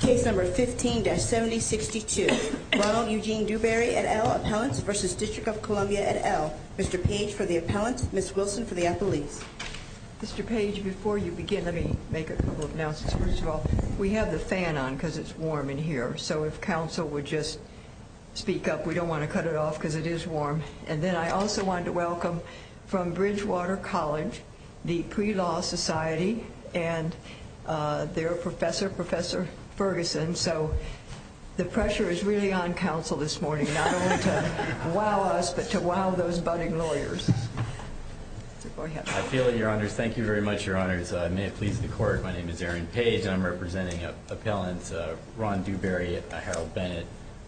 Case number 15-7062. Ronald Eugene Duberry et al. Appellants v. DC et al. Mr. Page for the appellants, Ms. Wilson for the appellees. Mr. Page, before you begin, let me make a couple of announcements. First of all, we have the fan on because it's warm in here, so if council would just speak up. We don't want to cut it off because it is warm. And then I also want to welcome from Bridgewater College, the Pre-Law Society, and their professor, Professor Ferguson. So the pressure is really on council this morning, not only to wow us, but to wow those budding lawyers. I feel it, your honors. Thank you very much, your honors. May it please the court, my name is Aaron Page, and I'm representing appellants Ron Duberry, Harold Bennett,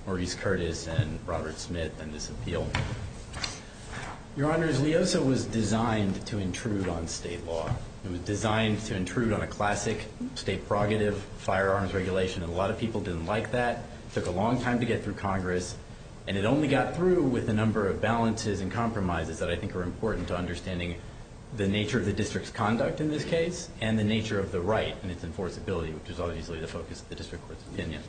Maurice Curtis, and Robert Smith, and this appeal. Your honors, LEOSA was designed to intrude on state law. It was designed to intrude on a classic state prerogative, firearms regulation, and a lot of people didn't like that. It took a long time to get through Congress, and it only got through with a number of balances and compromises that I think are important to understanding the nature of the district's conduct in this case, and the nature of the right and its enforceability, which is obviously the focus of the district court's opinion.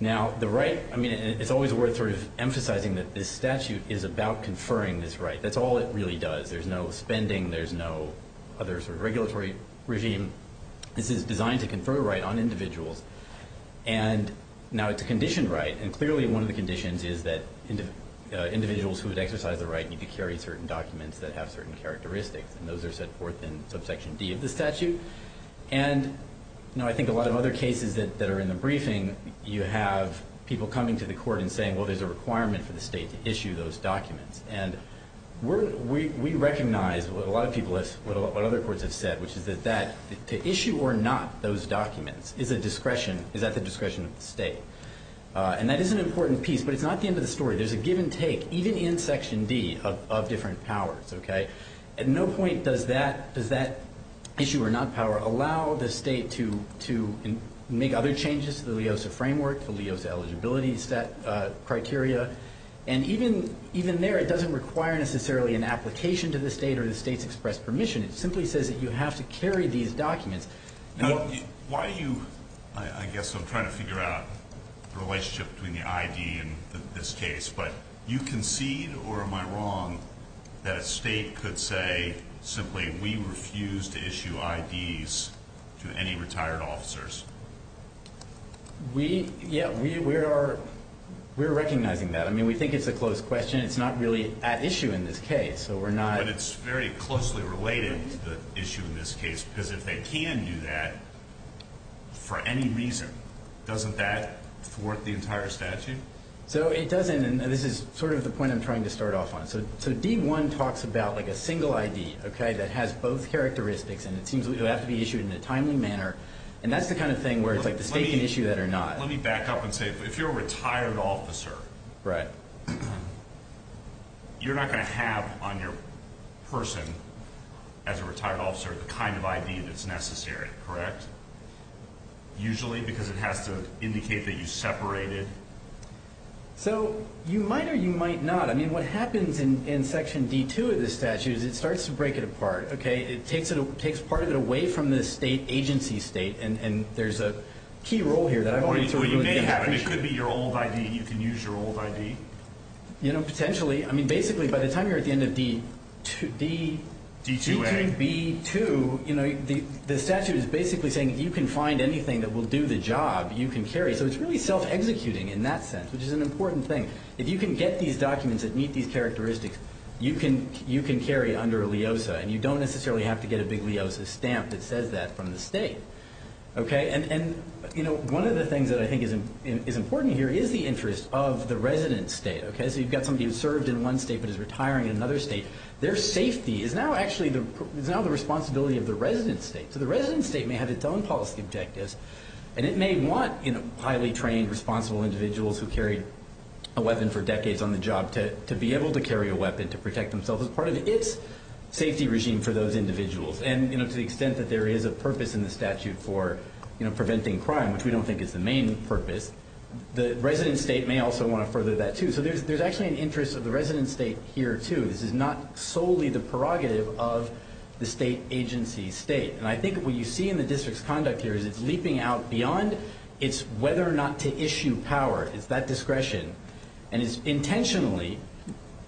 Now, the right, I mean, it's always worth sort of emphasizing that this statute is about conferring this right. That's all it really does. There's no spending. There's no other sort of regulatory regime. This is designed to confer a right on individuals, and now it's a conditioned right, and clearly one of the conditions is that individuals who would exercise the right need to carry certain documents that have certain characteristics, and those are set forth in subsection D of the statute. And I think a lot of other cases that are in the briefing, you have people coming to the court and saying, well, there's a requirement for the state to issue those documents, and we recognize what a lot of people have said, what other courts have said, which is that to issue or not those documents is at the discretion of the state, and that is an important piece, but it's not the end of the story. There's a give and take, even in section D, of different powers. At no point does that issue or not power allow the state to make other changes to the LEOSA framework, the LEOSA eligibility criteria, and even there it doesn't require necessarily an application to the state or the state's express permission. It simply says that you have to carry these documents. Now, why do you, I guess I'm trying to figure out the relationship between the ID and this case, but you concede, or am I wrong, that a state could say simply we refuse to issue IDs to any retired officers? We, yeah, we are recognizing that. I mean, we think it's a close question. It's not really at issue in this case, so we're not. But it's very closely related to the issue in this case because if they can do that for any reason, doesn't that thwart the entire statute? So it doesn't, and this is sort of the point I'm trying to start off on. So D1 talks about like a single ID, okay, that has both characteristics, and it seems it would have to be issued in a timely manner, and that's the kind of thing where it's like the state can issue that or not. Let me back up and say if you're a retired officer, you're not going to have on your person as a retired officer the kind of ID that's necessary, correct? Usually because it has to indicate that you separated. So you might or you might not. I mean, what happens in Section D2 of the statute is it starts to break it apart, okay? It takes part of it away from the state agency state, and there's a key role here that I've always sort of looked at. Well, you may have it. It could be your old ID. You can use your old ID. You know, potentially. I mean, basically, by the time you're at the end of D2B2, you know, the statute is basically saying if you can find anything that will do the job, you can carry. So it's really self-executing in that sense, which is an important thing. If you can get these documents that meet these characteristics, you can carry under a LIOSA, and you don't necessarily have to get a big LIOSA stamp that says that from the state, okay? And, you know, one of the things that I think is important here is the interest of the resident state, okay? So you've got somebody who served in one state but is retiring in another state. Their safety is now actually the responsibility of the resident state. So the resident state may have its own policy objectives, and it may want, you know, highly trained, responsible individuals who carried a weapon for decades on the job to be able to carry a weapon to protect themselves as part of its safety regime for those individuals. And, you know, to the extent that there is a purpose in the statute for, you know, preventing crime, which we don't think is the main purpose, the resident state may also want to further that too. So there's actually an interest of the resident state here too. This is not solely the prerogative of the state agency state. And I think what you see in the district's conduct here is it's leaping out beyond its whether or not to issue power. It's that discretion. And it's intentionally,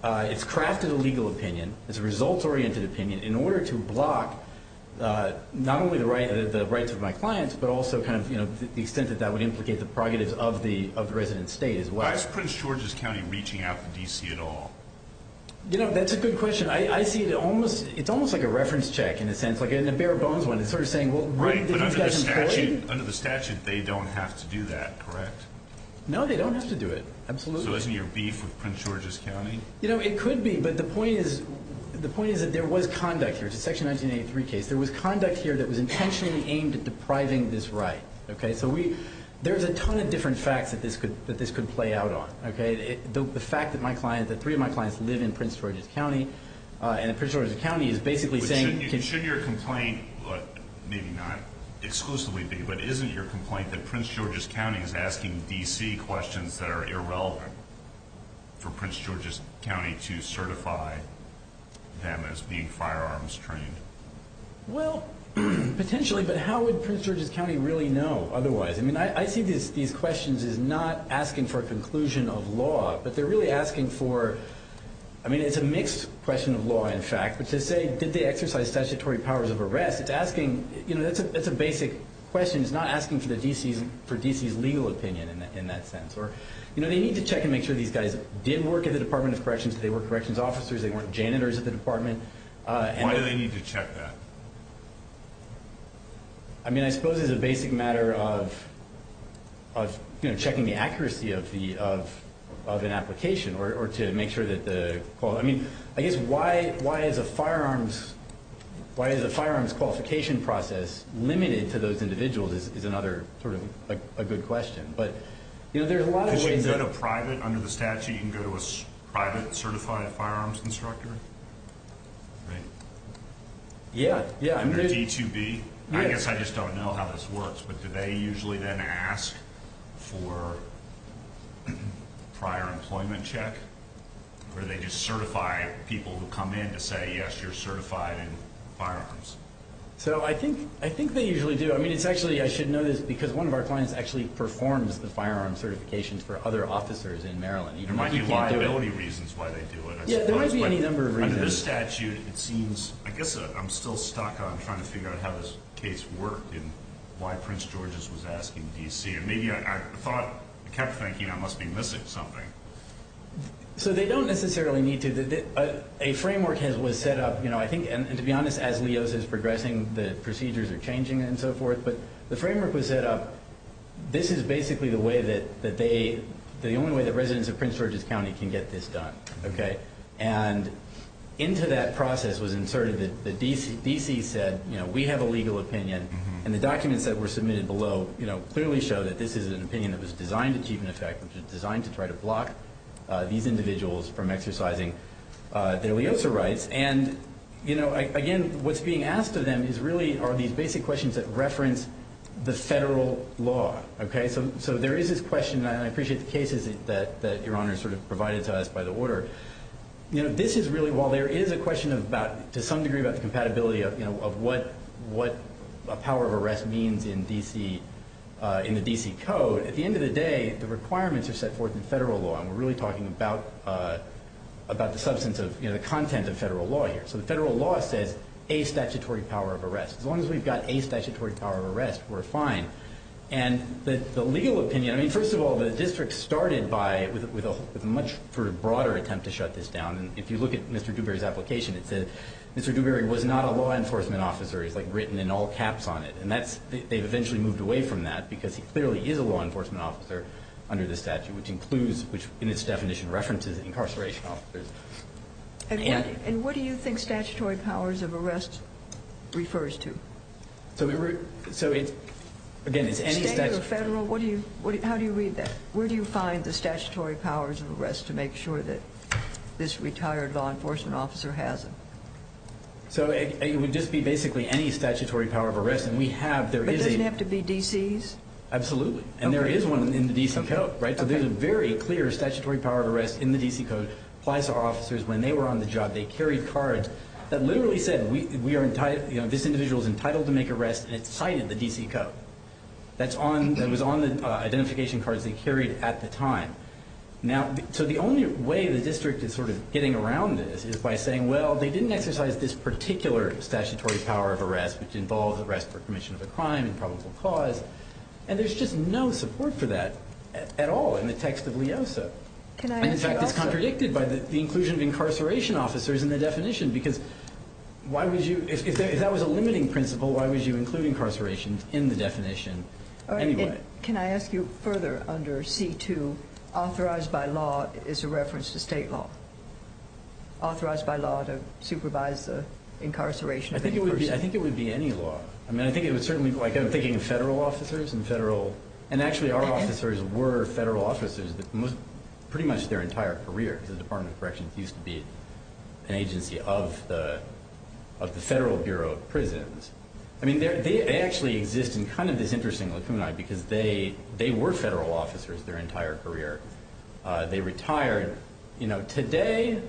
it's crafted a legal opinion. It's a results-oriented opinion in order to block not only the rights of my clients but also kind of, you know, the extent that that would implicate the prerogatives of the resident state as well. Why is Prince George's County reaching out to D.C. at all? You know, that's a good question. I see it almost, it's almost like a reference check in a sense, like in a bare-bones one. It's sort of saying, well, really, did these guys employ you? Right, but under the statute, they don't have to do that, correct? No, they don't have to do it, absolutely. So isn't your beef with Prince George's County? You know, it could be, but the point is that there was conduct here. It's a Section 1983 case. There was conduct here that was intentionally aimed at depriving this right, okay? So there's a ton of different facts that this could play out on, okay? The fact that my client, that three of my clients live in Prince George's County and that Prince George's County is basically saying— Shouldn't your complaint, maybe not exclusively be, but isn't your complaint that Prince George's County is asking D.C. questions that are irrelevant for Prince George's County to certify them as being firearms trained? Well, potentially, but how would Prince George's County really know otherwise? I mean, I see these questions as not asking for a conclusion of law, but they're really asking for—I mean, it's a mixed question of law, in fact. But to say, did they exercise statutory powers of arrest? It's asking—you know, that's a basic question. It's not asking for D.C.'s legal opinion in that sense. You know, they need to check and make sure these guys did work at the Department of Corrections, that they were corrections officers, they weren't janitors at the department. Why do they need to check that? I mean, I suppose it's a basic matter of checking the accuracy of an application or to make sure that the—I mean, I guess why is a firearms qualification process limited to those individuals is another sort of a good question. But, you know, there's a lot of ways that— Because you can go to private, under the statute, you can go to a private certified firearms instructor? Right. Yeah, yeah. Under D2B? I guess I just don't know how this works, but do they usually then ask for prior employment check? Or do they just certify people who come in to say, yes, you're certified in firearms? So I think they usually do. I mean, it's actually—I should know this because one of our clients actually performs the firearms certifications for other officers in Maryland. There might be liability reasons why they do it. Yeah, there might be any number of reasons. But under this statute, it seems—I guess I'm still stuck on trying to figure out how this case worked and why Prince George's was asking D.C. And maybe I thought—I kept thinking I must be missing something. So they don't necessarily need to. A framework was set up, you know, I think—and to be honest, as LEOS is progressing, the procedures are changing and so forth. But the framework was set up—this is basically the way that they—the only way that And into that process was inserted the—D.C. said, you know, we have a legal opinion. And the documents that were submitted below, you know, clearly show that this is an opinion that was designed to keep in effect, which is designed to try to block these individuals from exercising their LEOSA rights. And, you know, again, what's being asked of them is really are these basic questions that reference the federal law. Okay, so there is this question, and I appreciate the cases that Your Honor sort of provided to us by the order. You know, this is really—while there is a question of about, to some degree, about the compatibility of what a power of arrest means in D.C., in the D.C. Code, at the end of the day, the requirements are set forth in federal law. And we're really talking about the substance of, you know, the content of federal law here. So the federal law says a statutory power of arrest. As long as we've got a statutory power of arrest, we're fine. And the legal opinion—I mean, first of all, the district started with a much broader attempt to shut this down. And if you look at Mr. Dewberry's application, it says Mr. Dewberry was not a law enforcement officer. It's like written in all caps on it. And that's—they've eventually moved away from that because he clearly is a law enforcement officer under the statute, which includes, in its definition, references incarceration officers. And what do you think statutory powers of arrest refers to? So, again, it's any— State or federal? How do you read that? Where do you find the statutory powers of arrest to make sure that this retired law enforcement officer has them? So it would just be basically any statutory power of arrest. And we have— But doesn't it have to be D.C.'s? Absolutely. And there is one in the D.C. Code, right? So there's a very clear statutory power of arrest in the D.C. Code applies to our officers when they were on the job. They carried cards that literally said we are—this individual is entitled to make arrests, and it's cited in the D.C. Code. That's on—it was on the identification cards they carried at the time. Now, so the only way the district is sort of getting around this is by saying, well, they didn't exercise this particular statutory power of arrest, which involves arrest for commission of a crime and probable cause. And there's just no support for that at all in the text of LEOSA. And, in fact, it's contradicted by the inclusion of incarceration officers in the definition, because why would you—if that was a limiting principle, why would you include incarceration in the definition anyway? Can I ask you further under C.2, authorized by law is a reference to state law, authorized by law to supervise the incarceration of any person? I think it would be any law. I mean, I think it would certainly—like, I'm thinking of federal officers and federal— pretty much their entire career, because the Department of Corrections used to be an agency of the Federal Bureau of Prisons. I mean, they actually exist in kind of this interesting lacunae, because they were federal officers their entire career. They retired. Today,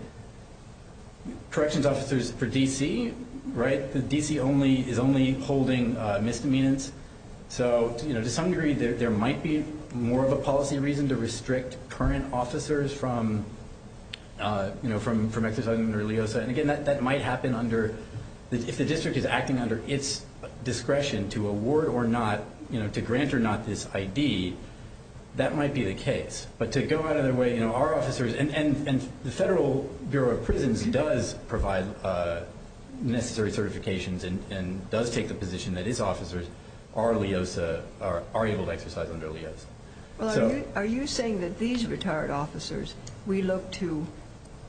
corrections officers for D.C., right, the D.C. is only holding misdemeanants. So, you know, to some degree, there might be more of a policy reason to restrict current officers from exercising their LEOSA. And, again, that might happen under—if the district is acting under its discretion to award or not, you know, to grant or not this I.D., that might be the case. But to go out of their way—you know, our officers—and the Federal Bureau of Prisons does provide necessary certifications and does take the position that its officers are LEOSA—are able to exercise their LEOSA. Well, are you saying that these retired officers, we look to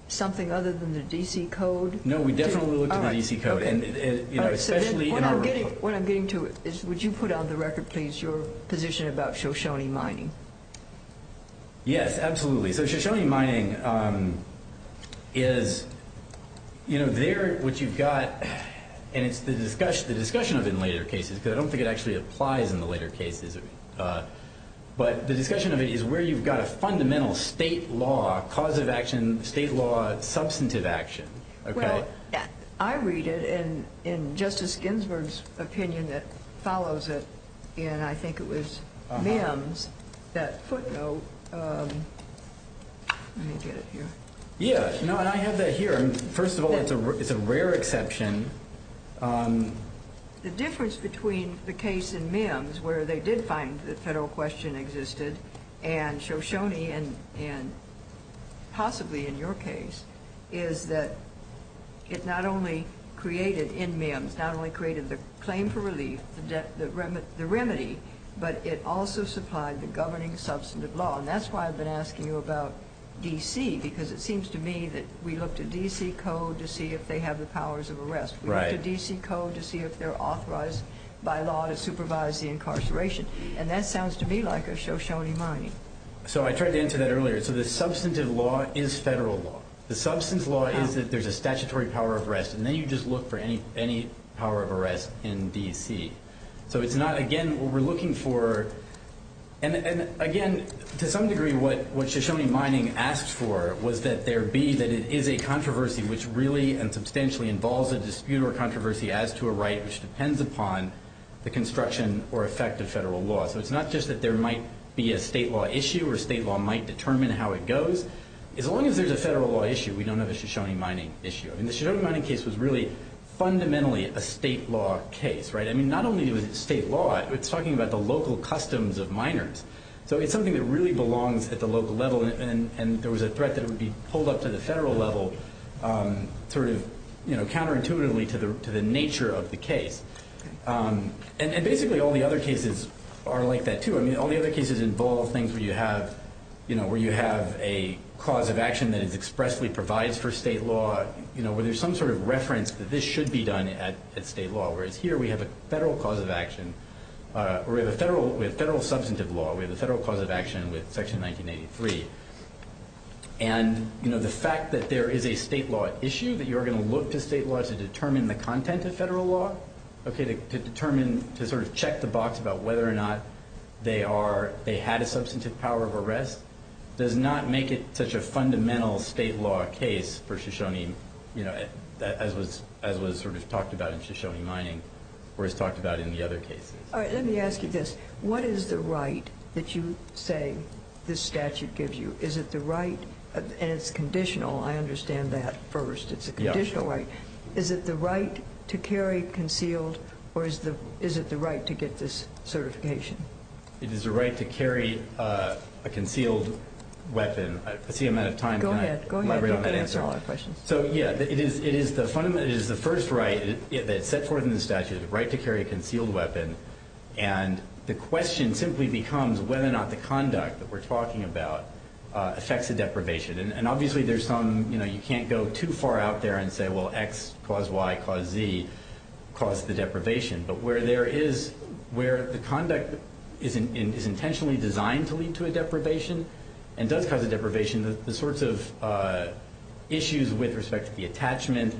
something other than the D.C. Code? No, we definitely look to the D.C. Code. All right, okay. You know, especially in our— What I'm getting to is, would you put on the record, please, your position about Shoshone mining? Yes, absolutely. So Shoshone mining is, you know, there what you've got—and it's the discussion of it in later cases, because I don't think it actually applies in the later cases. But the discussion of it is where you've got a fundamental state law, causative action, state law, substantive action. Well, I read it, and in Justice Ginsburg's opinion that follows it, and I think it was Mims that footnote—let me get it here. Yeah, no, and I have that here. First of all, it's a rare exception. The difference between the case in Mims, where they did find the federal question existed, and Shoshone, and possibly in your case, is that it not only created, in Mims, not only created the claim for relief, the remedy, but it also supplied the governing substantive law. And that's why I've been asking you about D.C., because it seems to me that we look to D.C. code to see if they have the powers of arrest. We look to D.C. code to see if they're authorized by law to supervise the incarceration. And that sounds to me like a Shoshone mining. So I tried to answer that earlier. So the substantive law is federal law. The substance law is that there's a statutory power of arrest, and then you just look for any power of arrest in D.C. So it's not, again, what we're looking for. And again, to some degree, what Shoshone mining asked for was that there be, that it is a controversy, which really and substantially involves a dispute or controversy as to a right which depends upon the construction or effect of federal law. So it's not just that there might be a state law issue, or state law might determine how it goes. As long as there's a federal law issue, we don't have a Shoshone mining issue. And the Shoshone mining case was really fundamentally a state law case, right? I mean, not only was it state law, it's talking about the local customs of miners. So it's something that really belongs at the local level, and there was a threat that it would be pulled up to the federal level sort of counterintuitively to the nature of the case. And basically, all the other cases are like that, too. I mean, all the other cases involve things where you have a cause of action that is expressly provided for state law, where there's some sort of reference that this should be done at state law. Whereas here, we have a federal substantive law. We have a federal cause of action with Section 1983. And the fact that there is a state law issue, that you're going to look to state law to determine the content of federal law, to sort of check the box about whether or not they had a substantive power of arrest, does not make it such a fundamental state law case for Shoshone, as was sort of talked about in Shoshone mining, or as talked about in the other cases. All right, let me ask you this. What is the right that you say this statute gives you? Is it the right, and it's conditional. I understand that first. It's a conditional right. Is it the right to carry concealed, or is it the right to get this certification? It is the right to carry a concealed weapon. I see I'm out of time. Go ahead. You can answer all our questions. So, yeah, it is the first right that's set forth in the statute, the right to carry a concealed weapon. And the question simply becomes whether or not the conduct that we're talking about affects the deprivation. And obviously, there's some, you know, you can't go too far out there and say, well, X cause Y cause Z cause the deprivation. But where there is, where the conduct is intentionally designed to lead to a deprivation and does cause a deprivation, the sorts of issues with respect to the attachment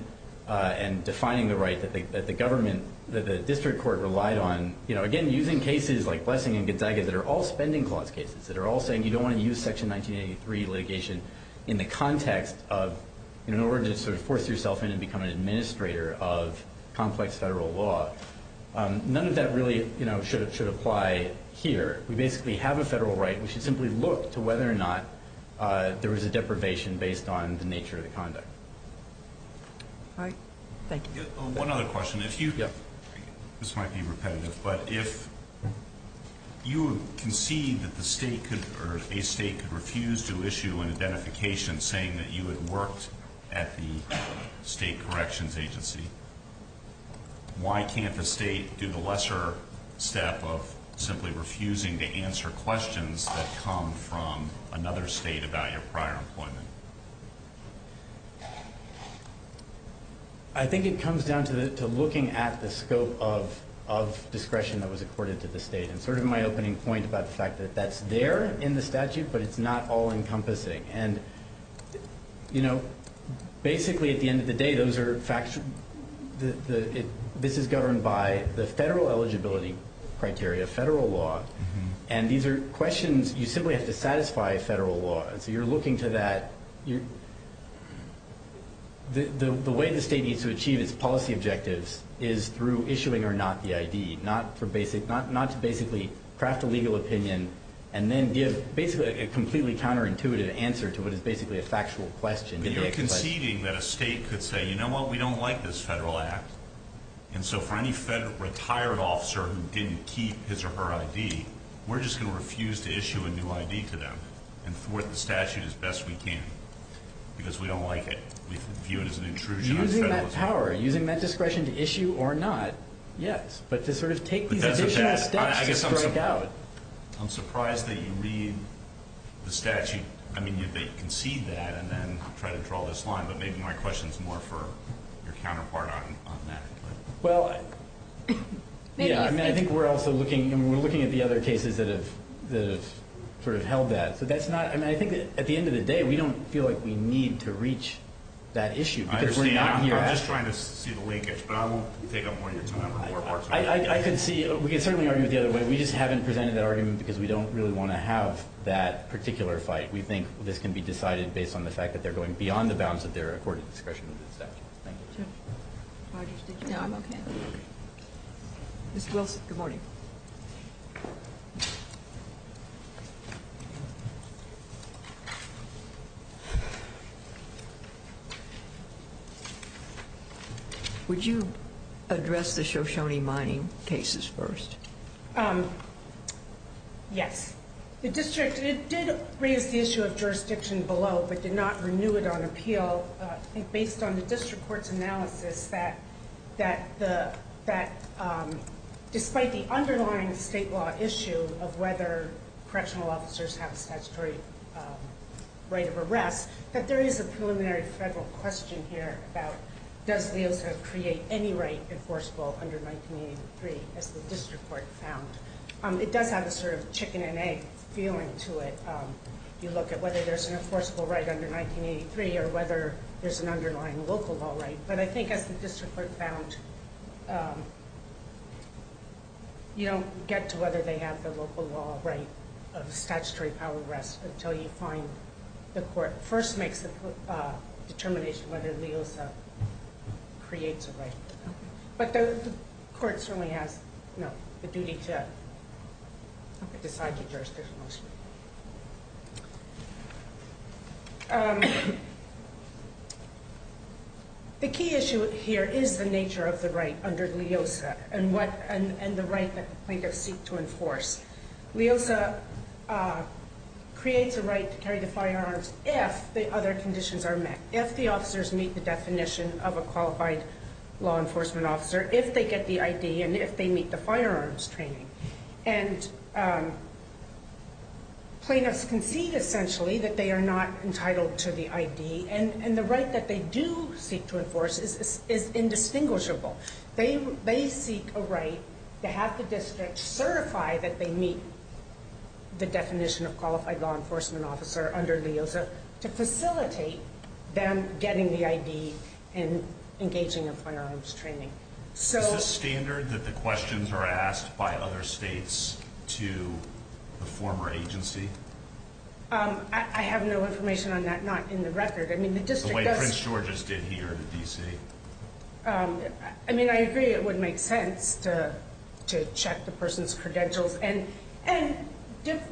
and defining the right that the government, that the district court relied on, you know, again, using cases like Blessing and Gonzaga that are all spending clause cases, that are all saying you don't want to use Section 1983 litigation in the context of, you know, in order to sort of force yourself in and become an administrator of complex federal law. None of that really, you know, should apply here. We basically have a federal right. We should simply look to whether or not there is a deprivation based on the nature of the conduct. All right. Thank you. One other question. This might be repetitive, but if you concede that the state could, or a state could refuse to issue an identification saying that you had worked at the state corrections agency, why can't the state do the lesser step of simply refusing to answer questions that come from another state about your prior employment? I think it comes down to looking at the scope of discretion that was accorded to the state, and sort of my opening point about the fact that that's there in the statute, but it's not all-encompassing. And, you know, basically at the end of the day, this is governed by the federal eligibility criteria, federal law, and these are questions you simply have to satisfy federal law. So you're looking to that. The way the state needs to achieve its policy objectives is through issuing or not the ID, not to basically craft a legal opinion and then give basically a completely counterintuitive answer to what is basically a factual question. But you're conceding that a state could say, you know what, we don't like this federal act, and so for any retired officer who didn't keep his or her ID, we're just going to refuse to issue a new ID to them and thwart the statute as best we can because we don't like it. We view it as an intrusion on federalism. Using that power, using that discretion to issue or not, yes, but to sort of take these additional steps to strike out. I'm surprised that you read the statute. I mean, you concede that and then try to draw this line, but maybe my question is more for your counterpart on that. Well, yeah, I mean, I think we're also looking, and we're looking at the other cases that have sort of held that. So that's not, I mean, I think at the end of the day, we don't feel like we need to reach that issue because we're not here asking. I understand. I'm just trying to see the linkage, but I won't take up more of your time or more of Mark's time. I could see, we could certainly argue it the other way. We just haven't presented that argument because we don't really want to have that particular fight. We think this can be decided based on the fact that they're going beyond the bounds of their accorded discretion under the statute. Thank you. No, I'm okay. Ms. Wilson, good morning. Would you address the Shoshone mining cases first? Yes. The district, it did raise the issue of jurisdiction below, but did not renew it on appeal. I think based on the district court's analysis that despite the underlying state law issue of whether correctional officers have a statutory right of arrest, that there is a preliminary federal question here about does LeOSA create any right enforceable under 1983 as the district court found. It does have a sort of chicken and egg feeling to it. You look at whether there's an enforceable right under 1983 or whether there's an underlying local law right. But I think as the district court found, you don't get to whether they have the local law right of statutory power arrest until you find the court first makes a determination whether LeOSA creates a right. But the court certainly has the duty to decide the jurisdiction. The key issue here is the nature of the right under LeOSA and the right that plaintiffs seek to enforce. LeOSA creates a right to carry the firearms if the other conditions are met, if the officers meet the definition of a qualified law enforcement officer, if they get the ID and if they meet the firearms training. And plaintiffs concede essentially that they are not entitled to the ID and the right that they do seek to enforce is indistinguishable. They seek a right to have the district certify that they meet the definition of qualified law enforcement officer under LeOSA to facilitate them getting the ID and engaging in firearms training. Is this standard that the questions are asked by other states to the former agency? I have no information on that, not in the record. The way Prince George's did here in D.C.? I agree it would make sense to check the person's credentials. And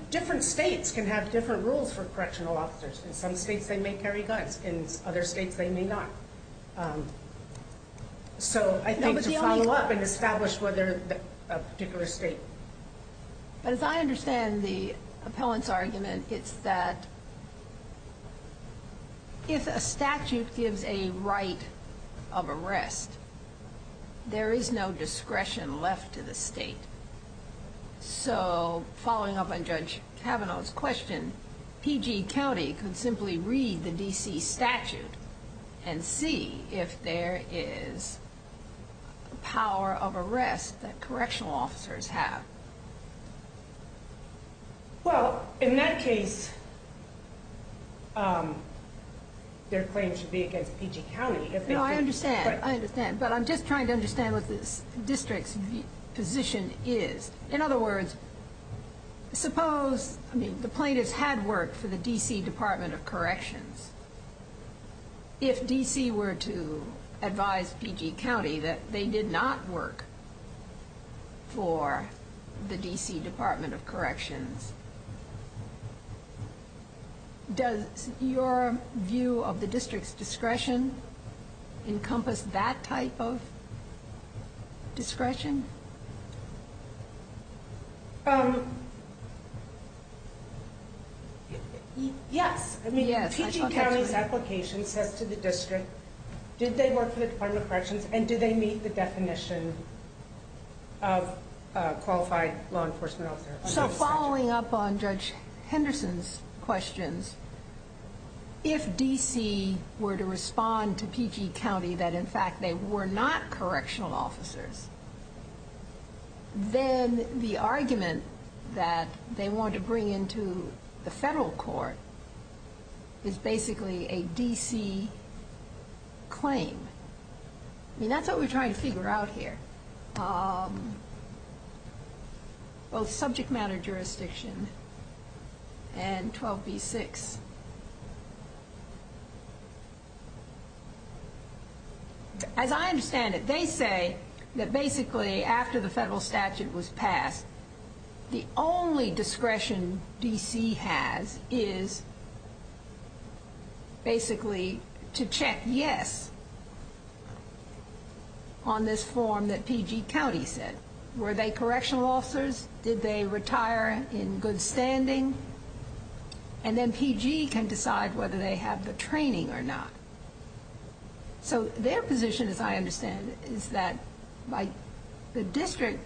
different states can have different rules for correctional officers. In some states they may carry guns. In other states they may not. So I think to follow up and establish whether a particular state. But as I understand the appellant's argument, it's that if a statute gives a right of arrest, there is no discretion left to the state. So following up on Judge Kavanaugh's question, PG County could simply read the D.C. statute and see if there is power of arrest that correctional officers have. Well, in that case, their claim should be against PG County. No, I understand. I understand. But I'm just trying to understand what this district's position is. In other words, suppose the plaintiffs had worked for the D.C. Department of Corrections. If D.C. were to advise PG County that they did not work for the D.C. Department of Corrections, does your view of the district's discretion encompass that type of discretion? Yes. I mean, PG County's application says to the district, did they work for the Department of Corrections and did they meet the definition of qualified law enforcement officers? So following up on Judge Henderson's questions, if D.C. were to respond to PG County that, in fact, they were not correctional officers, then the argument that they want to bring into the federal court is basically a D.C. claim. I mean, that's what we're trying to figure out here. Both subject matter jurisdiction and 12b-6. As I understand it, they say that basically after the federal statute was passed, the only discretion D.C. has is basically to check yes on this form that PG County said. Were they correctional officers? Did they retire in good standing? And then PG can decide whether they have the training or not. So their position, as I understand it, is that by the district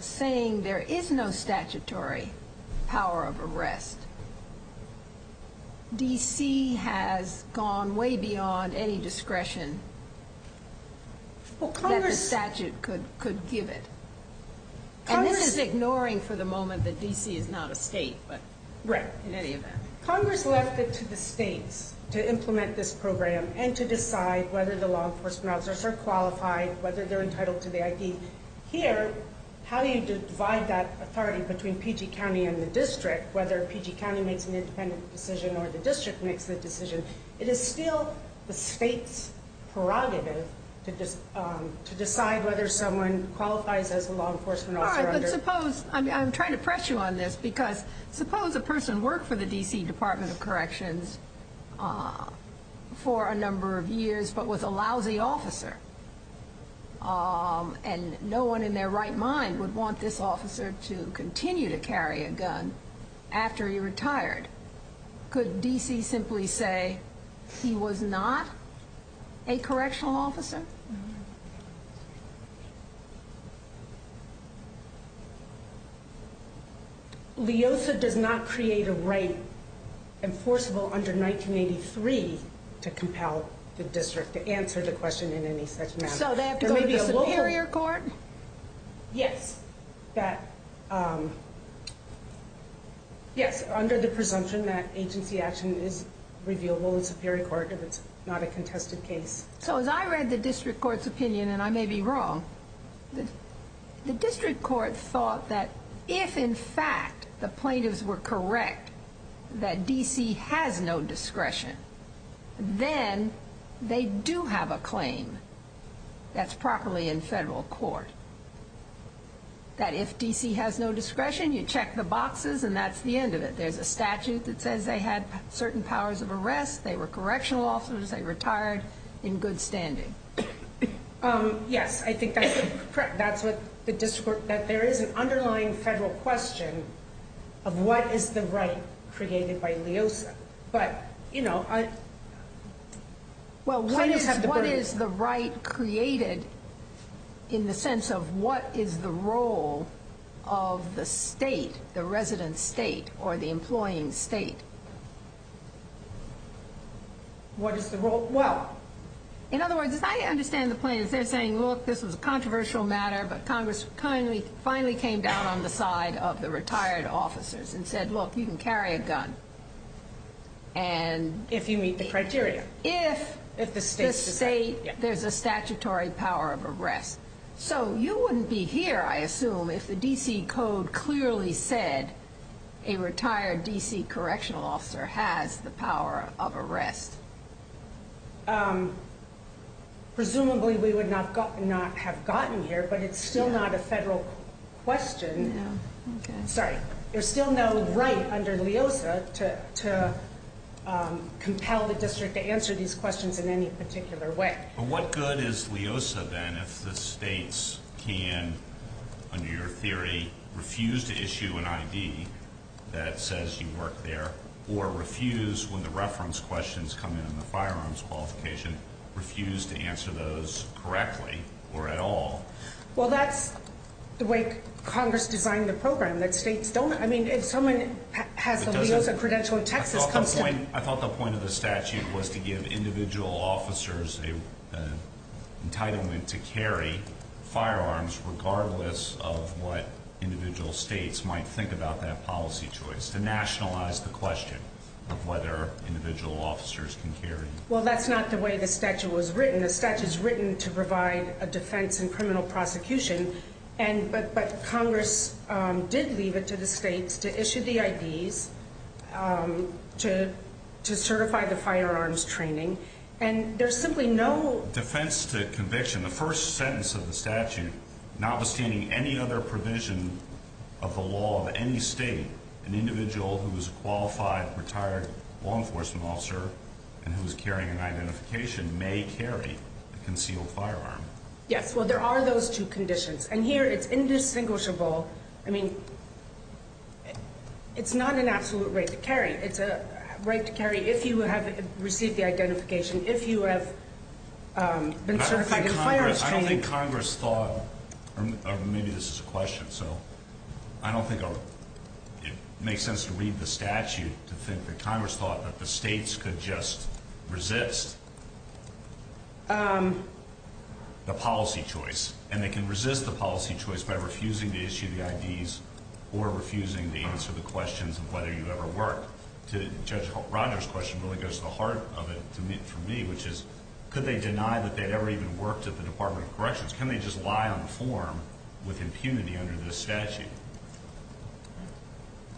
saying there is no statutory power of arrest, D.C. has gone way beyond any discretion that the statute could give it. And this is ignoring for the moment that D.C. is not a state, but in any event. Congress left it to the states to implement this program and to decide whether the law enforcement officers are qualified, whether they're entitled to the ID. Here, how do you divide that authority between PG County and the district, whether PG County makes an independent decision or the district makes the decision? It is still the state's prerogative to decide whether someone qualifies as a law enforcement officer. I'm trying to press you on this because suppose a person worked for the D.C. Department of Corrections for a number of years but was a lousy officer and no one in their right mind would want this officer to continue to carry a gun after he retired. Could D.C. simply say he was not a correctional officer? LEOSA does not create a right enforceable under 1983 to compel the district to answer the question in any such manner. So they have to go to the superior court? Yes, under the presumption that agency action is reviewable in superior court if it's not a contested case. So as I read the district court's opinion, and I may be wrong, the district court thought that if in fact the plaintiffs were correct that D.C. has no discretion, then they do have a claim that's properly in federal court. That if D.C. has no discretion, you check the boxes and that's the end of it. There's a statute that says they had certain powers of arrest, they were correctional officers, they retired in good standing. Yes, I think that's what the district, that there is an underlying federal question of what is the right created by LEOSA. Well, what is the right created in the sense of what is the role of the state, the resident state, or the employing state? What is the role? Well, in other words, I understand the plaintiffs, they're saying, look, this was a controversial matter, but Congress finally came down on the side of the retired officers and said, look, you can carry a gun. If you meet the criteria. If the state, there's a statutory power of arrest. So you wouldn't be here, I assume, if the D.C. code clearly said a retired D.C. correctional officer has the power of arrest. Presumably, we would not have gotten here, but it's still not a federal question. Sorry, there's still no right under LEOSA to compel the district to answer these questions in any particular way. But what good is LEOSA then if the states can, under your theory, refuse to issue an I.D. that says you work there, or refuse when the reference questions come in on the firearms qualification, refuse to answer those correctly or at all? Well, that's the way Congress designed the program, that states don't, I mean, if someone has a LEOSA credential in Texas. I thought the point of the statute was to give individual officers an entitlement to carry firearms, regardless of what individual states might think about that policy choice, to nationalize the question of whether individual officers can carry. Well, that's not the way the statute was written. The statute is written to provide a defense in criminal prosecution, but Congress did leave it to the states to issue the I.D.s. to certify the firearms training, and there's simply no... Defense to conviction, the first sentence of the statute, notwithstanding any other provision of the law of any state, an individual who is a qualified, retired law enforcement officer and who is carrying an identification may carry a concealed firearm. Yes, well, there are those two conditions, and here it's indistinguishable. I mean, it's not an absolute right to carry. It's a right to carry if you have received the identification, if you have been certified in firearms training. I don't think Congress thought, or maybe this is a question, so I don't think it makes sense to read the statute to think that Congress thought that the states could just resist the policy choice, and they can resist the policy choice by refusing to issue the I.D.s. or refusing to answer the questions of whether you ever worked. Judge Rogers' question really goes to the heart of it for me, which is, could they deny that they'd ever even worked at the Department of Corrections? Can they just lie on the form with impunity under this statute?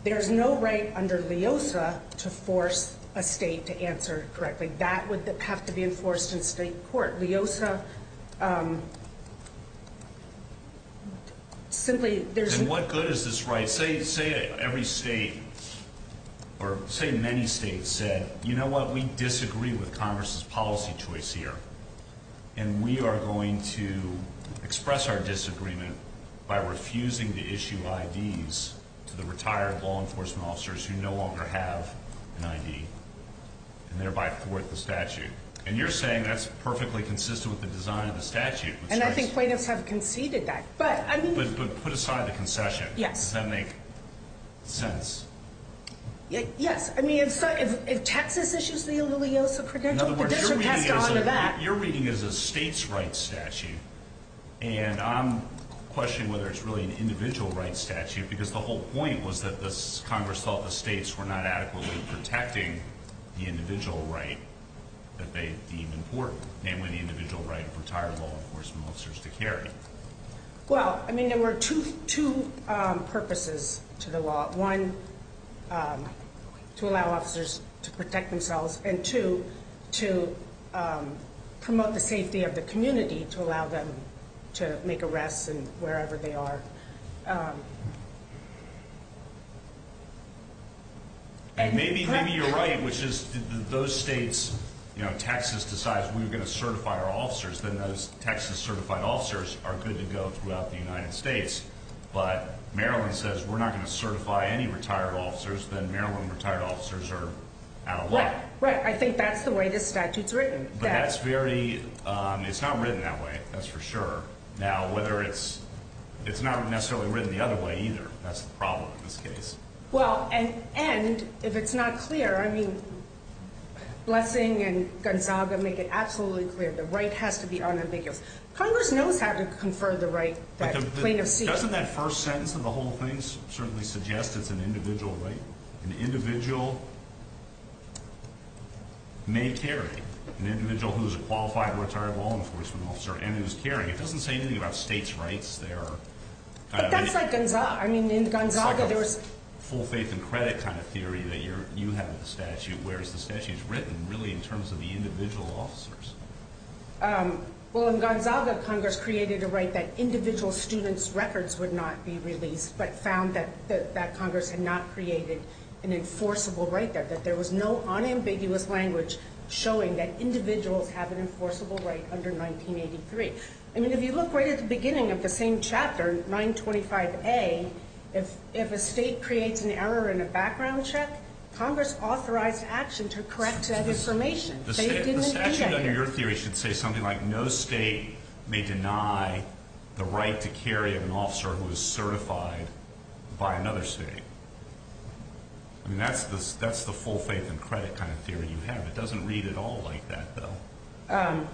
There's no right under LEOSA to force a state to answer correctly. That would have to be enforced in state court. LEOSA simply there's no- And what good is this right? Say every state or say many states said, you know what, we disagree with Congress's policy choice here, and we are going to express our disagreement by refusing to issue I.D.s. to the retired law enforcement officers who no longer have an I.D. and thereby thwart the statute. And you're saying that's perfectly consistent with the design of the statute. And I think plaintiffs have conceded that. But put aside the concession. Yes. Does that make sense? Yes. I mean, if Texas issues the LEOSA credential, the district has to honor that. Your reading is a state's rights statute. And I'm questioning whether it's really an individual rights statute, because the whole point was that Congress thought the states were not adequately protecting the individual right that they deemed important, namely the individual right of retired law enforcement officers to carry. Well, I mean, there were two purposes to the law. One, to allow officers to protect themselves. And two, to promote the safety of the community, to allow them to make arrests wherever they are. Maybe you're right, which is those states, you know, Texas decides we're going to certify our officers, then those Texas certified officers are good to go throughout the United States. But Maryland says we're not going to certify any retired officers, then Maryland retired officers are out of luck. Right. I think that's the way this statute's written. But that's very, it's not written that way, that's for sure. Now, whether it's, it's not necessarily written the other way either. That's the problem in this case. Well, and if it's not clear, I mean, Blessing and Gonzaga make it absolutely clear. The right has to be unambiguous. Congress knows how to confer the right that plaintiffs seek. But doesn't that first sentence of the whole thing certainly suggest it's an individual right? An individual may carry. An individual who's a qualified retired law enforcement officer and is carrying. It doesn't say anything about states' rights there. But that's like Gonzaga. I mean, in Gonzaga there was. It's like a full faith and credit kind of theory that you have with the statute, whereas the statute is written really in terms of the individual officers. Well, in Gonzaga, Congress created a right that individual students' records would not be released, but found that Congress had not created an enforceable right there, that there was no unambiguous language showing that individuals have an enforceable right under 1983. I mean, if you look right at the beginning of the same chapter, 925A, if a state creates an error in a background check, Congress authorized action to correct that information. The statute under your theory should say something like, no state may deny the right to carry of an officer who is certified by another state. I mean, that's the full faith and credit kind of theory you have. It doesn't read at all like that, though.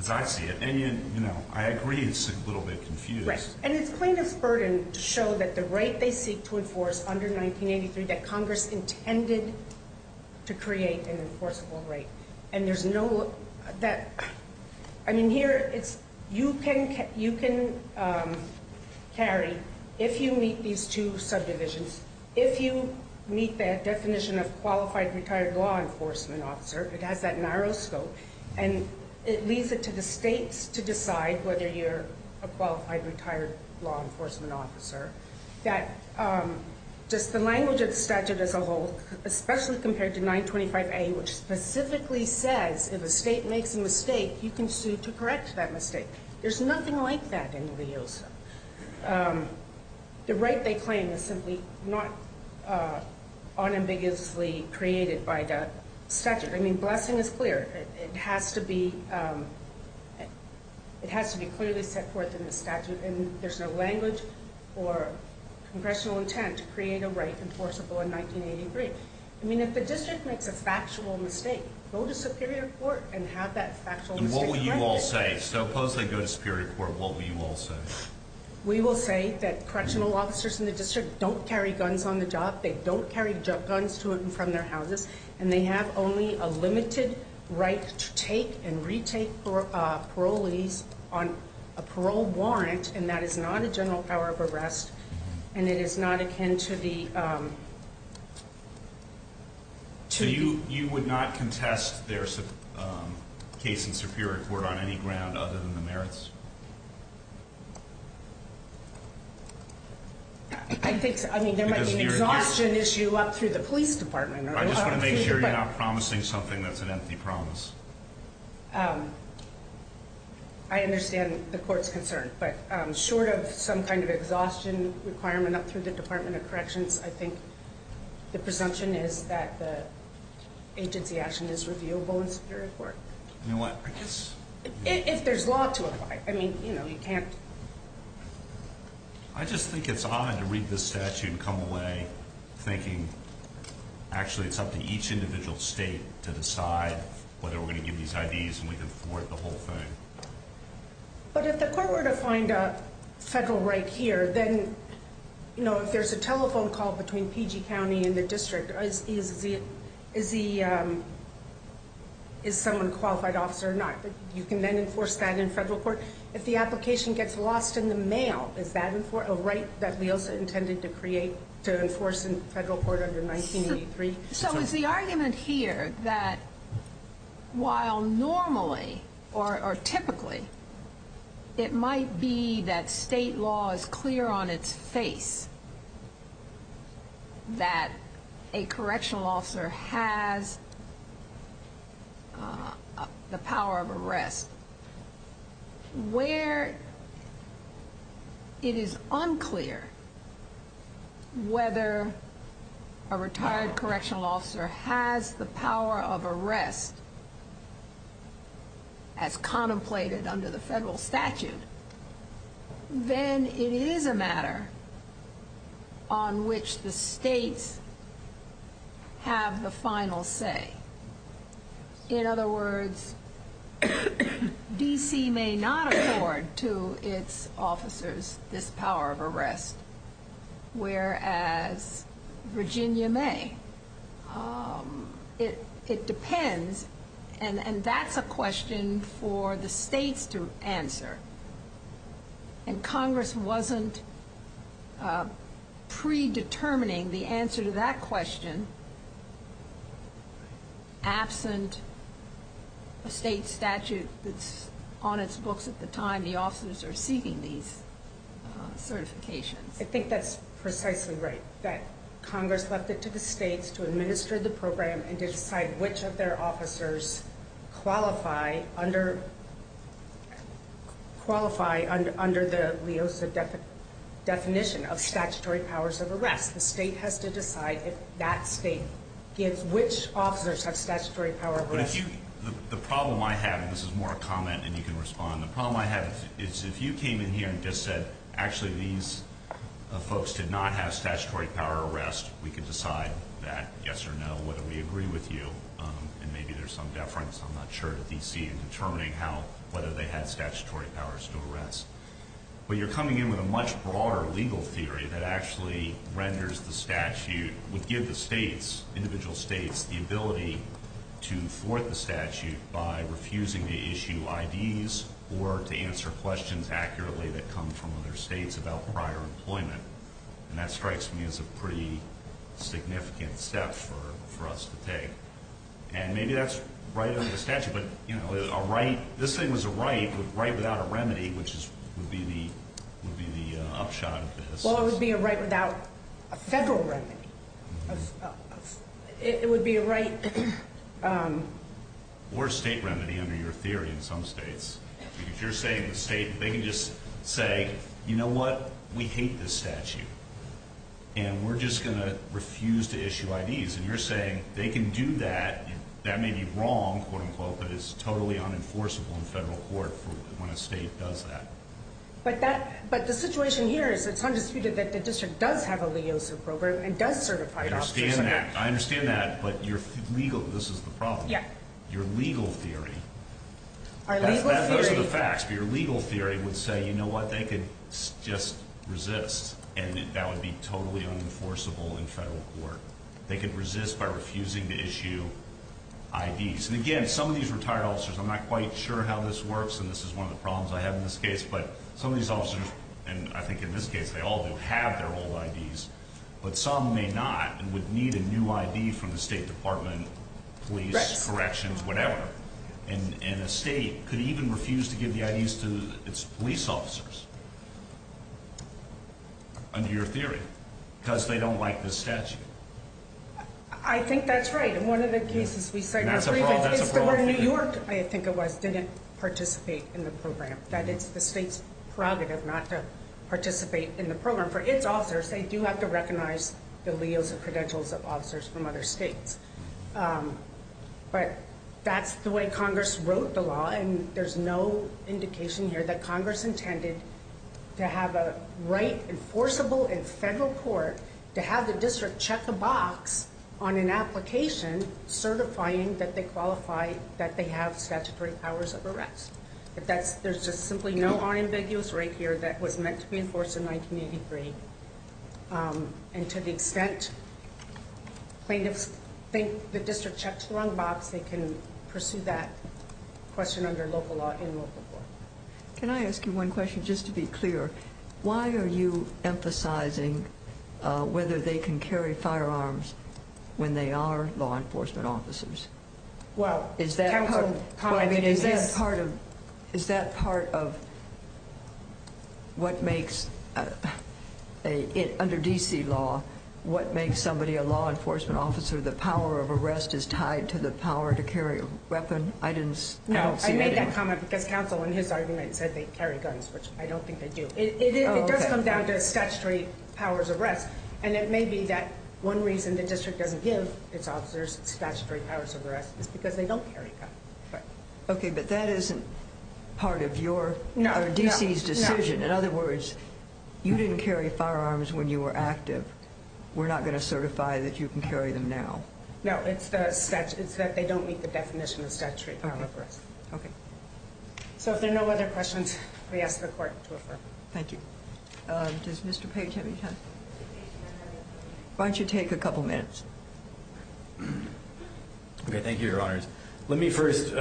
As I see it. And, you know, I agree it's a little bit confused. And it's plaintiff's burden to show that the right they seek to enforce under 1983 that Congress intended to create an enforceable right. And there's no – I mean, here, you can carry if you meet these two subdivisions. If you meet that definition of qualified retired law enforcement officer, it has that narrow scope, and it leaves it to the states to decide whether you're a qualified retired law enforcement officer. That just the language of the statute as a whole, especially compared to 925A, which specifically says if a state makes a mistake, you can sue to correct that mistake. There's nothing like that in LEOSA. The right they claim is simply not unambiguously created by the statute. I mean, blessing is clear. It has to be clearly set forth in the statute, and there's no language or congressional intent to create a right enforceable in 1983. I mean, if the district makes a factual mistake, go to superior court and have that factual mistake corrected. And what will you all say? Suppose they go to superior court, what will you all say? We will say that correctional officers in the district don't carry guns on the job. They don't carry guns to and from their houses. And they have only a limited right to take and retake parolees on a parole warrant, and that is not a general power of arrest, and it is not akin to the ‑‑ So you would not contest their case in superior court on any ground other than the merits? I think there might be an exhaustion issue up through the police department. I just want to make sure you're not promising something that's an empty promise. I understand the court's concern, but short of some kind of exhaustion requirement up through the Department of Corrections, I think the presumption is that the agency action is reviewable in superior court. You know what, I guess ‑‑ If there's law to apply. I mean, you know, you can't ‑‑ I just think it's odd to read this statute and come away thinking, actually, it's up to each individual state to decide whether we're going to give these IDs and we can thwart the whole thing. But if the court were to find a federal right here, then, you know, if there's a telephone call between PG County and the district, is someone a qualified officer or not? You can then enforce that in federal court. If the application gets lost in the mail, is that a right that we also intended to create to enforce in federal court under 1983? So is the argument here that while normally or typically it might be that state law is clear on its face that a correctional officer has the power of arrest, where it is unclear whether a retired correctional officer has the power of arrest as contemplated under the federal statute, then it is a matter on which the states have the final say. In other words, D.C. may not afford to its officers this power of arrest, whereas Virginia may. It depends. And that's a question for the states to answer. And Congress wasn't predetermining the answer to that question absent a state statute that's on its books at the time the officers are seeking these certifications. I think that's precisely right, that Congress left it to the states to administer the program and to decide which of their officers qualify under the LEOSA definition of statutory powers of arrest. The state has to decide if that state gives which officers have statutory powers of arrest. The problem I have, and this is more a comment and you can respond, the problem I have is if you came in here and just said, actually these folks did not have statutory power of arrest, we could decide that yes or no, whether we agree with you, and maybe there's some deference, I'm not sure, to D.C. in determining whether they had statutory powers to arrest. But you're coming in with a much broader legal theory that actually renders the statute, would give the states, individual states, the ability to thwart the statute by refusing to issue IDs or to answer questions accurately that come from other states about prior employment. And that strikes me as a pretty significant step for us to take. And maybe that's right under the statute, but a right, this thing was a right, but a right without a remedy, which would be the upshot of this. Well, it would be a right without a federal remedy. It would be a right. Or a state remedy under your theory in some states. Because you're saying the state, they can just say, you know what, we hate this statute. And we're just going to refuse to issue IDs. And you're saying they can do that, that may be wrong, quote unquote, but it's totally unenforceable in federal court when a state does that. But the situation here is it's undisputed that the district does have a LEOSA program and does certified officers in the act. I understand that, but this is the problem. Your legal theory, those are the facts, but your legal theory would say, you know what, they could just resist and that would be totally unenforceable in federal court. They could resist by refusing to issue IDs. And, again, some of these retired officers, I'm not quite sure how this works, and this is one of the problems I have in this case, but some of these officers, and I think in this case they all do have their old IDs, but some may not and would need a new ID from the State Department, police, corrections, whatever. And a state could even refuse to give the IDs to its police officers, under your theory, because they don't like this statute. I think that's right. And one of the cases we cited, where New York, I think it was, didn't participate in the program, that it's the state's prerogative not to participate in the program. And for its officers, they do have to recognize the liens and credentials of officers from other states. But that's the way Congress wrote the law, and there's no indication here that Congress intended to have a right enforceable in federal court to have the district check the box on an application certifying that they qualify, that they have statutory powers of arrest. There's just simply no unambiguous right here that was meant to be enforced in 1983. And to the extent plaintiffs think the district checks the wrong box, they can pursue that question under local law in local court. Can I ask you one question, just to be clear? Why are you emphasizing whether they can carry firearms when they are law enforcement officers? Is that part of what makes, under D.C. law, what makes somebody a law enforcement officer? The power of arrest is tied to the power to carry a weapon? No, I made that comment because counsel in his argument said they carry guns, which I don't think they do. It does come down to statutory powers of arrest, and it may be that one reason the district doesn't give its officers statutory powers of arrest is because they don't carry a gun. Okay, but that isn't part of D.C.'s decision. In other words, you didn't carry firearms when you were active. We're not going to certify that you can carry them now. No, it's that they don't meet the definition of statutory power of arrest. Okay. So if there are no other questions, I ask the court to refer. Thank you. Does Mr. Page have any time? Why don't you take a couple minutes? Okay, thank you, Your Honors. Let me first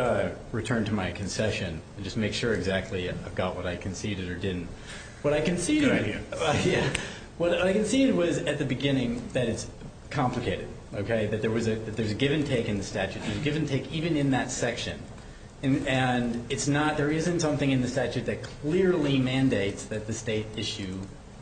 return to my concession and just make sure exactly I've got what I conceded or didn't. What I conceded was at the beginning that it's complicated, okay, that there's a give-and-take in the statute. There's a give-and-take even in that section, and there isn't something in the statute that clearly mandates that the state issue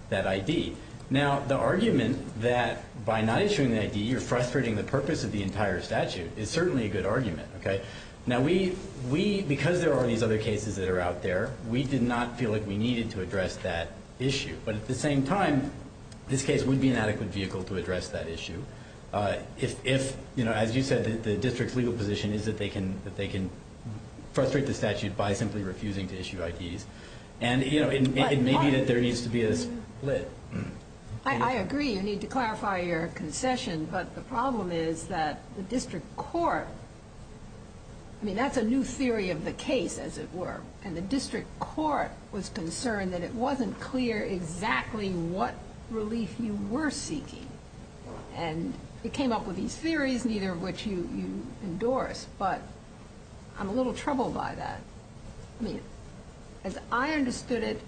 that ID. Now, the argument that by not issuing the ID, you're frustrating the purpose of the entire statute is certainly a good argument, okay? Now, because there are these other cases that are out there, we did not feel like we needed to address that issue. But at the same time, this case would be an adequate vehicle to address that issue if, as you said, the district's legal position is that they can frustrate the statute by simply refusing to issue IDs. And, you know, it may be that there needs to be a split. I agree. You need to clarify your concession. But the problem is that the district court, I mean, that's a new theory of the case, as it were, and the district court was concerned that it wasn't clear exactly what relief you were seeking. And it came up with these theories, neither of which you endorse. But I'm a little troubled by that. I mean, as I understood it,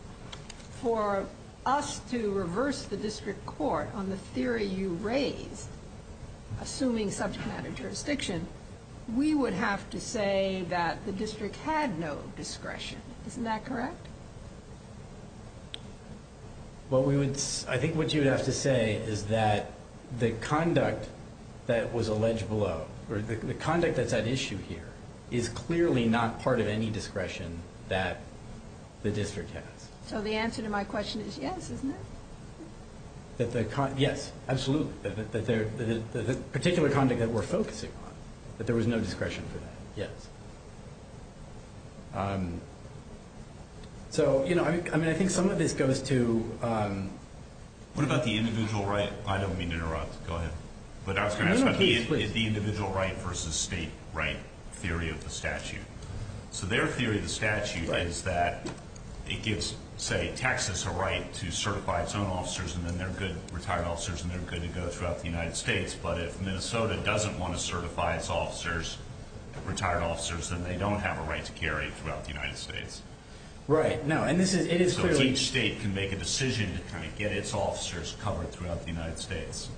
for us to reverse the district court on the theory you raised, assuming subject matter jurisdiction, we would have to say that the district had no discretion. Isn't that correct? Well, I think what you would have to say is that the conduct that was alleged below, or the conduct that's at issue here is clearly not part of any discretion that the district has. So the answer to my question is yes, isn't it? Yes, absolutely. The particular conduct that we're focusing on, that there was no discretion for that, yes. So, you know, I mean, I think some of this goes to... What about the individual right? I don't mean to interrupt. Go ahead. But I was going to ask about the individual right versus state right theory of the statute. So their theory of the statute is that it gives, say, Texas a right to certify its own officers, and then they're good retired officers, and they're good to go throughout the United States. But if Minnesota doesn't want to certify its officers, retired officers, then they don't have a right to carry throughout the United States. Right. So each state can make a decision to kind of get its officers covered throughout the United States.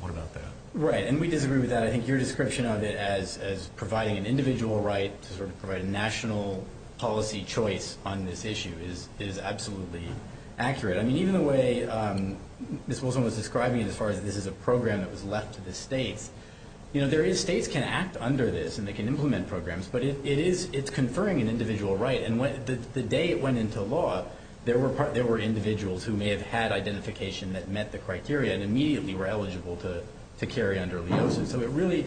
What about that? Right, and we disagree with that. I think your description of it as providing an individual right to sort of provide a national policy choice on this issue is absolutely accurate. I mean, even the way Ms. Wilson was describing it as far as this is a program that was left to the states, you know, states can act under this, and they can implement programs, but it's conferring an individual right. And the day it went into law, there were individuals who may have had identification that met the criteria and immediately were eligible to carry under LEOSA. So it really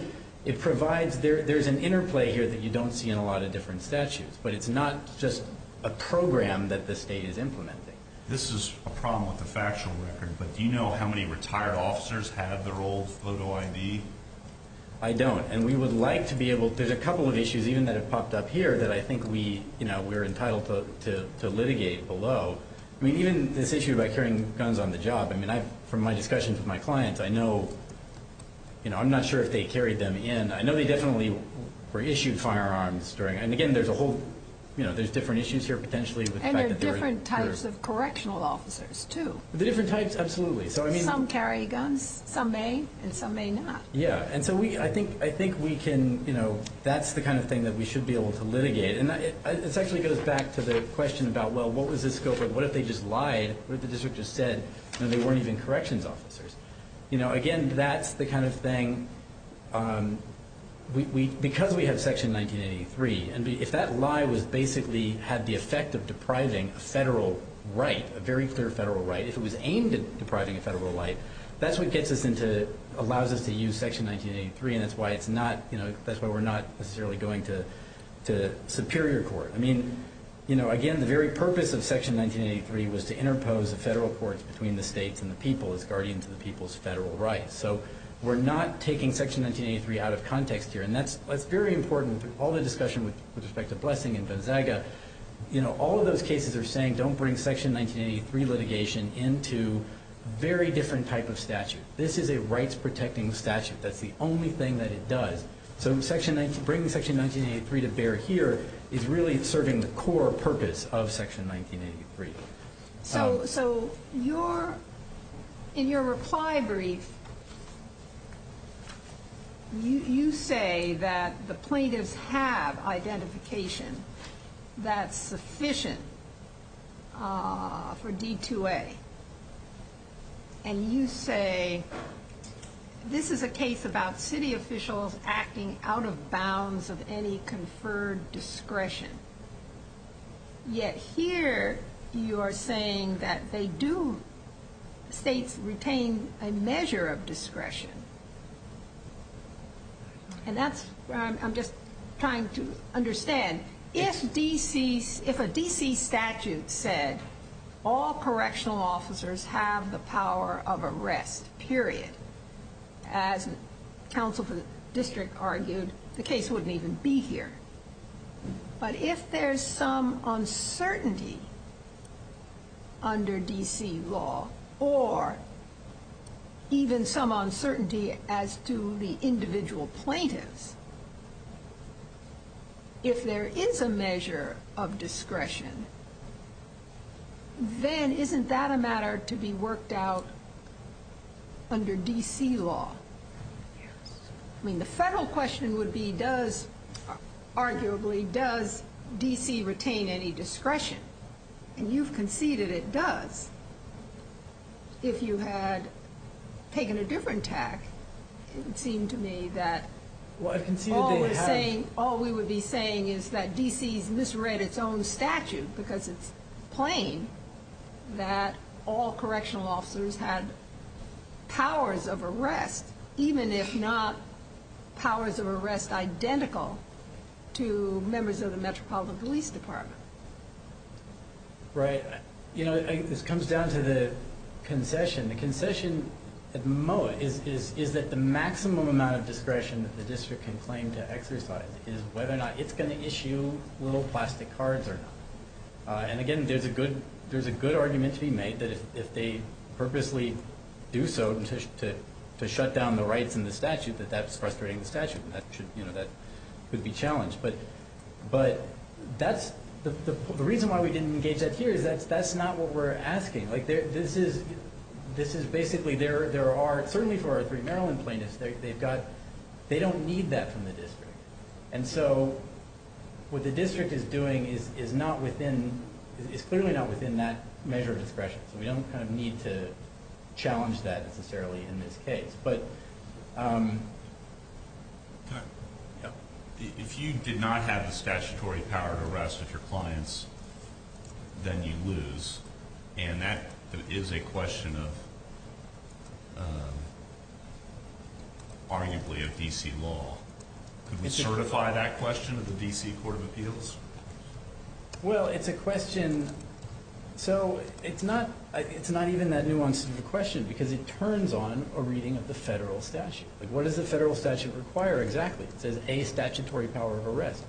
provides, there's an interplay here that you don't see in a lot of different statutes, but it's not just a program that the state is implementing. This is a problem with the factual record, but do you know how many retired officers have their old photo ID? I don't, and we would like to be able, there's a couple of issues even that have popped up here that I think we're entitled to litigate below. So, I mean, even this issue about carrying guns on the job, I mean, from my discussions with my clients, I know, you know, I'm not sure if they carried them in. I know they definitely were issued firearms during, and again, there's a whole, you know, there's different issues here potentially with the fact that they were. And there are different types of correctional officers too. There are different types, absolutely. Some carry guns, some may, and some may not. Yeah, and so I think we can, you know, that's the kind of thing that we should be able to litigate. And this actually goes back to the question about, well, what would this go for? What if they just lied? What if the district just said, you know, they weren't even corrections officers? You know, again, that's the kind of thing, because we have Section 1983, and if that lie was basically had the effect of depriving a federal right, a very clear federal right, if it was aimed at depriving a federal right, that's what gets us into, allows us to use Section 1983, and that's why it's not, you know, that's why we're not necessarily going to superior court. I mean, you know, again, the very purpose of Section 1983 was to interpose the federal courts between the states and the people as guardians of the people's federal rights. So we're not taking Section 1983 out of context here, and that's very important. All the discussion with respect to Blessing and Gonzaga, you know, all of those cases are saying don't bring Section 1983 litigation into a very different type of statute. This is a rights-protecting statute. That's the only thing that it does. So bringing Section 1983 to bear here is really serving the core purpose of Section 1983. So in your reply brief, you say that the plaintiffs have identification that's sufficient for D-2A, and you say this is a case about city officials acting out of bounds of any conferred discretion, yet here you are saying that they do, states retain a measure of discretion, and that's where I'm just trying to understand. If a D.C. statute said all correctional officers have the power of arrest, period, as counsel for the district argued, the case wouldn't even be here. But if there's some uncertainty under D.C. law, or even some uncertainty as to the individual plaintiffs, if there is a measure of discretion, then isn't that a matter to be worked out under D.C. law? I mean, the federal question would be, arguably, does D.C. retain any discretion? And you've conceded it does. If you had taken a different tack, it would seem to me that all we would be saying is that D.C. has misread its own statute, because it's plain that all correctional officers had powers of arrest, even if not powers of arrest identical to members of the Metropolitan Police Department. Right. You know, this comes down to the concession. The concession at the moment is that the maximum amount of discretion that the district can claim to exercise is whether or not it's going to issue little plastic cards or not. And again, there's a good argument to be made that if they purposely do so to shut down the rights in the statute, that that's frustrating the statute, and that could be challenged. But the reason why we didn't engage that here is that that's not what we're asking. Like, this is basically there are, certainly for our three Maryland plaintiffs, they don't need that from the district. And so what the district is doing is clearly not within that measure of discretion. So we don't kind of need to challenge that, necessarily, in this case. If you did not have the statutory power of arrest of your clients, then you lose. And that is a question of, arguably, of D.C. law. Could we certify that question of the D.C. Court of Appeals? Well, it's a question. So it's not even that nuanced of a question because it turns on a reading of the federal statute. Like, what does the federal statute require exactly? It says a statutory power of arrest.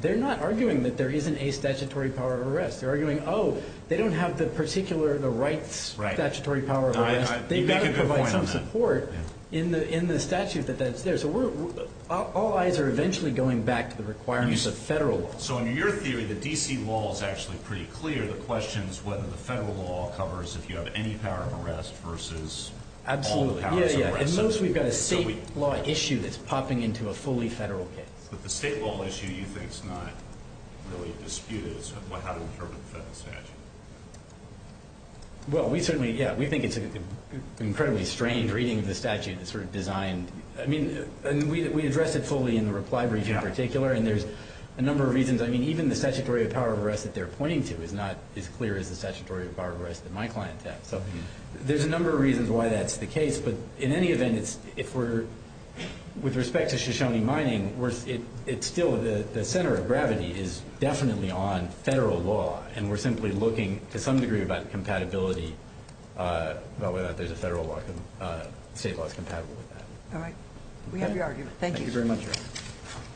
They're not arguing that there isn't a statutory power of arrest. They're arguing, oh, they don't have the particular rights statutory power of arrest. They've got to provide some support in the statute that that's there. So all eyes are eventually going back to the requirements of federal law. So in your theory, the D.C. law is actually pretty clear. The question is whether the federal law covers if you have any power of arrest versus all the powers of arrest. Yeah, yeah, and most we've got a state law issue that's popping into a fully federal case. But the state law issue, you think, is not really disputed. It's how to interpret the federal statute. Well, we certainly, yeah, we think it's an incredibly strange reading of the statute that's sort of designed. I mean, we address it fully in the reply brief in particular, and there's a number of reasons. I mean, even the statutory power of arrest that they're pointing to is not as clear as the statutory power of arrest that my client has. So there's a number of reasons why that's the case. But in any event, if we're with respect to Shoshone mining, it's still the center of gravity is definitely on federal law, and we're simply looking to some degree about compatibility about whether or not there's a federal law. The state law is compatible with that. All right. We have your argument. Thank you. Thank you very much.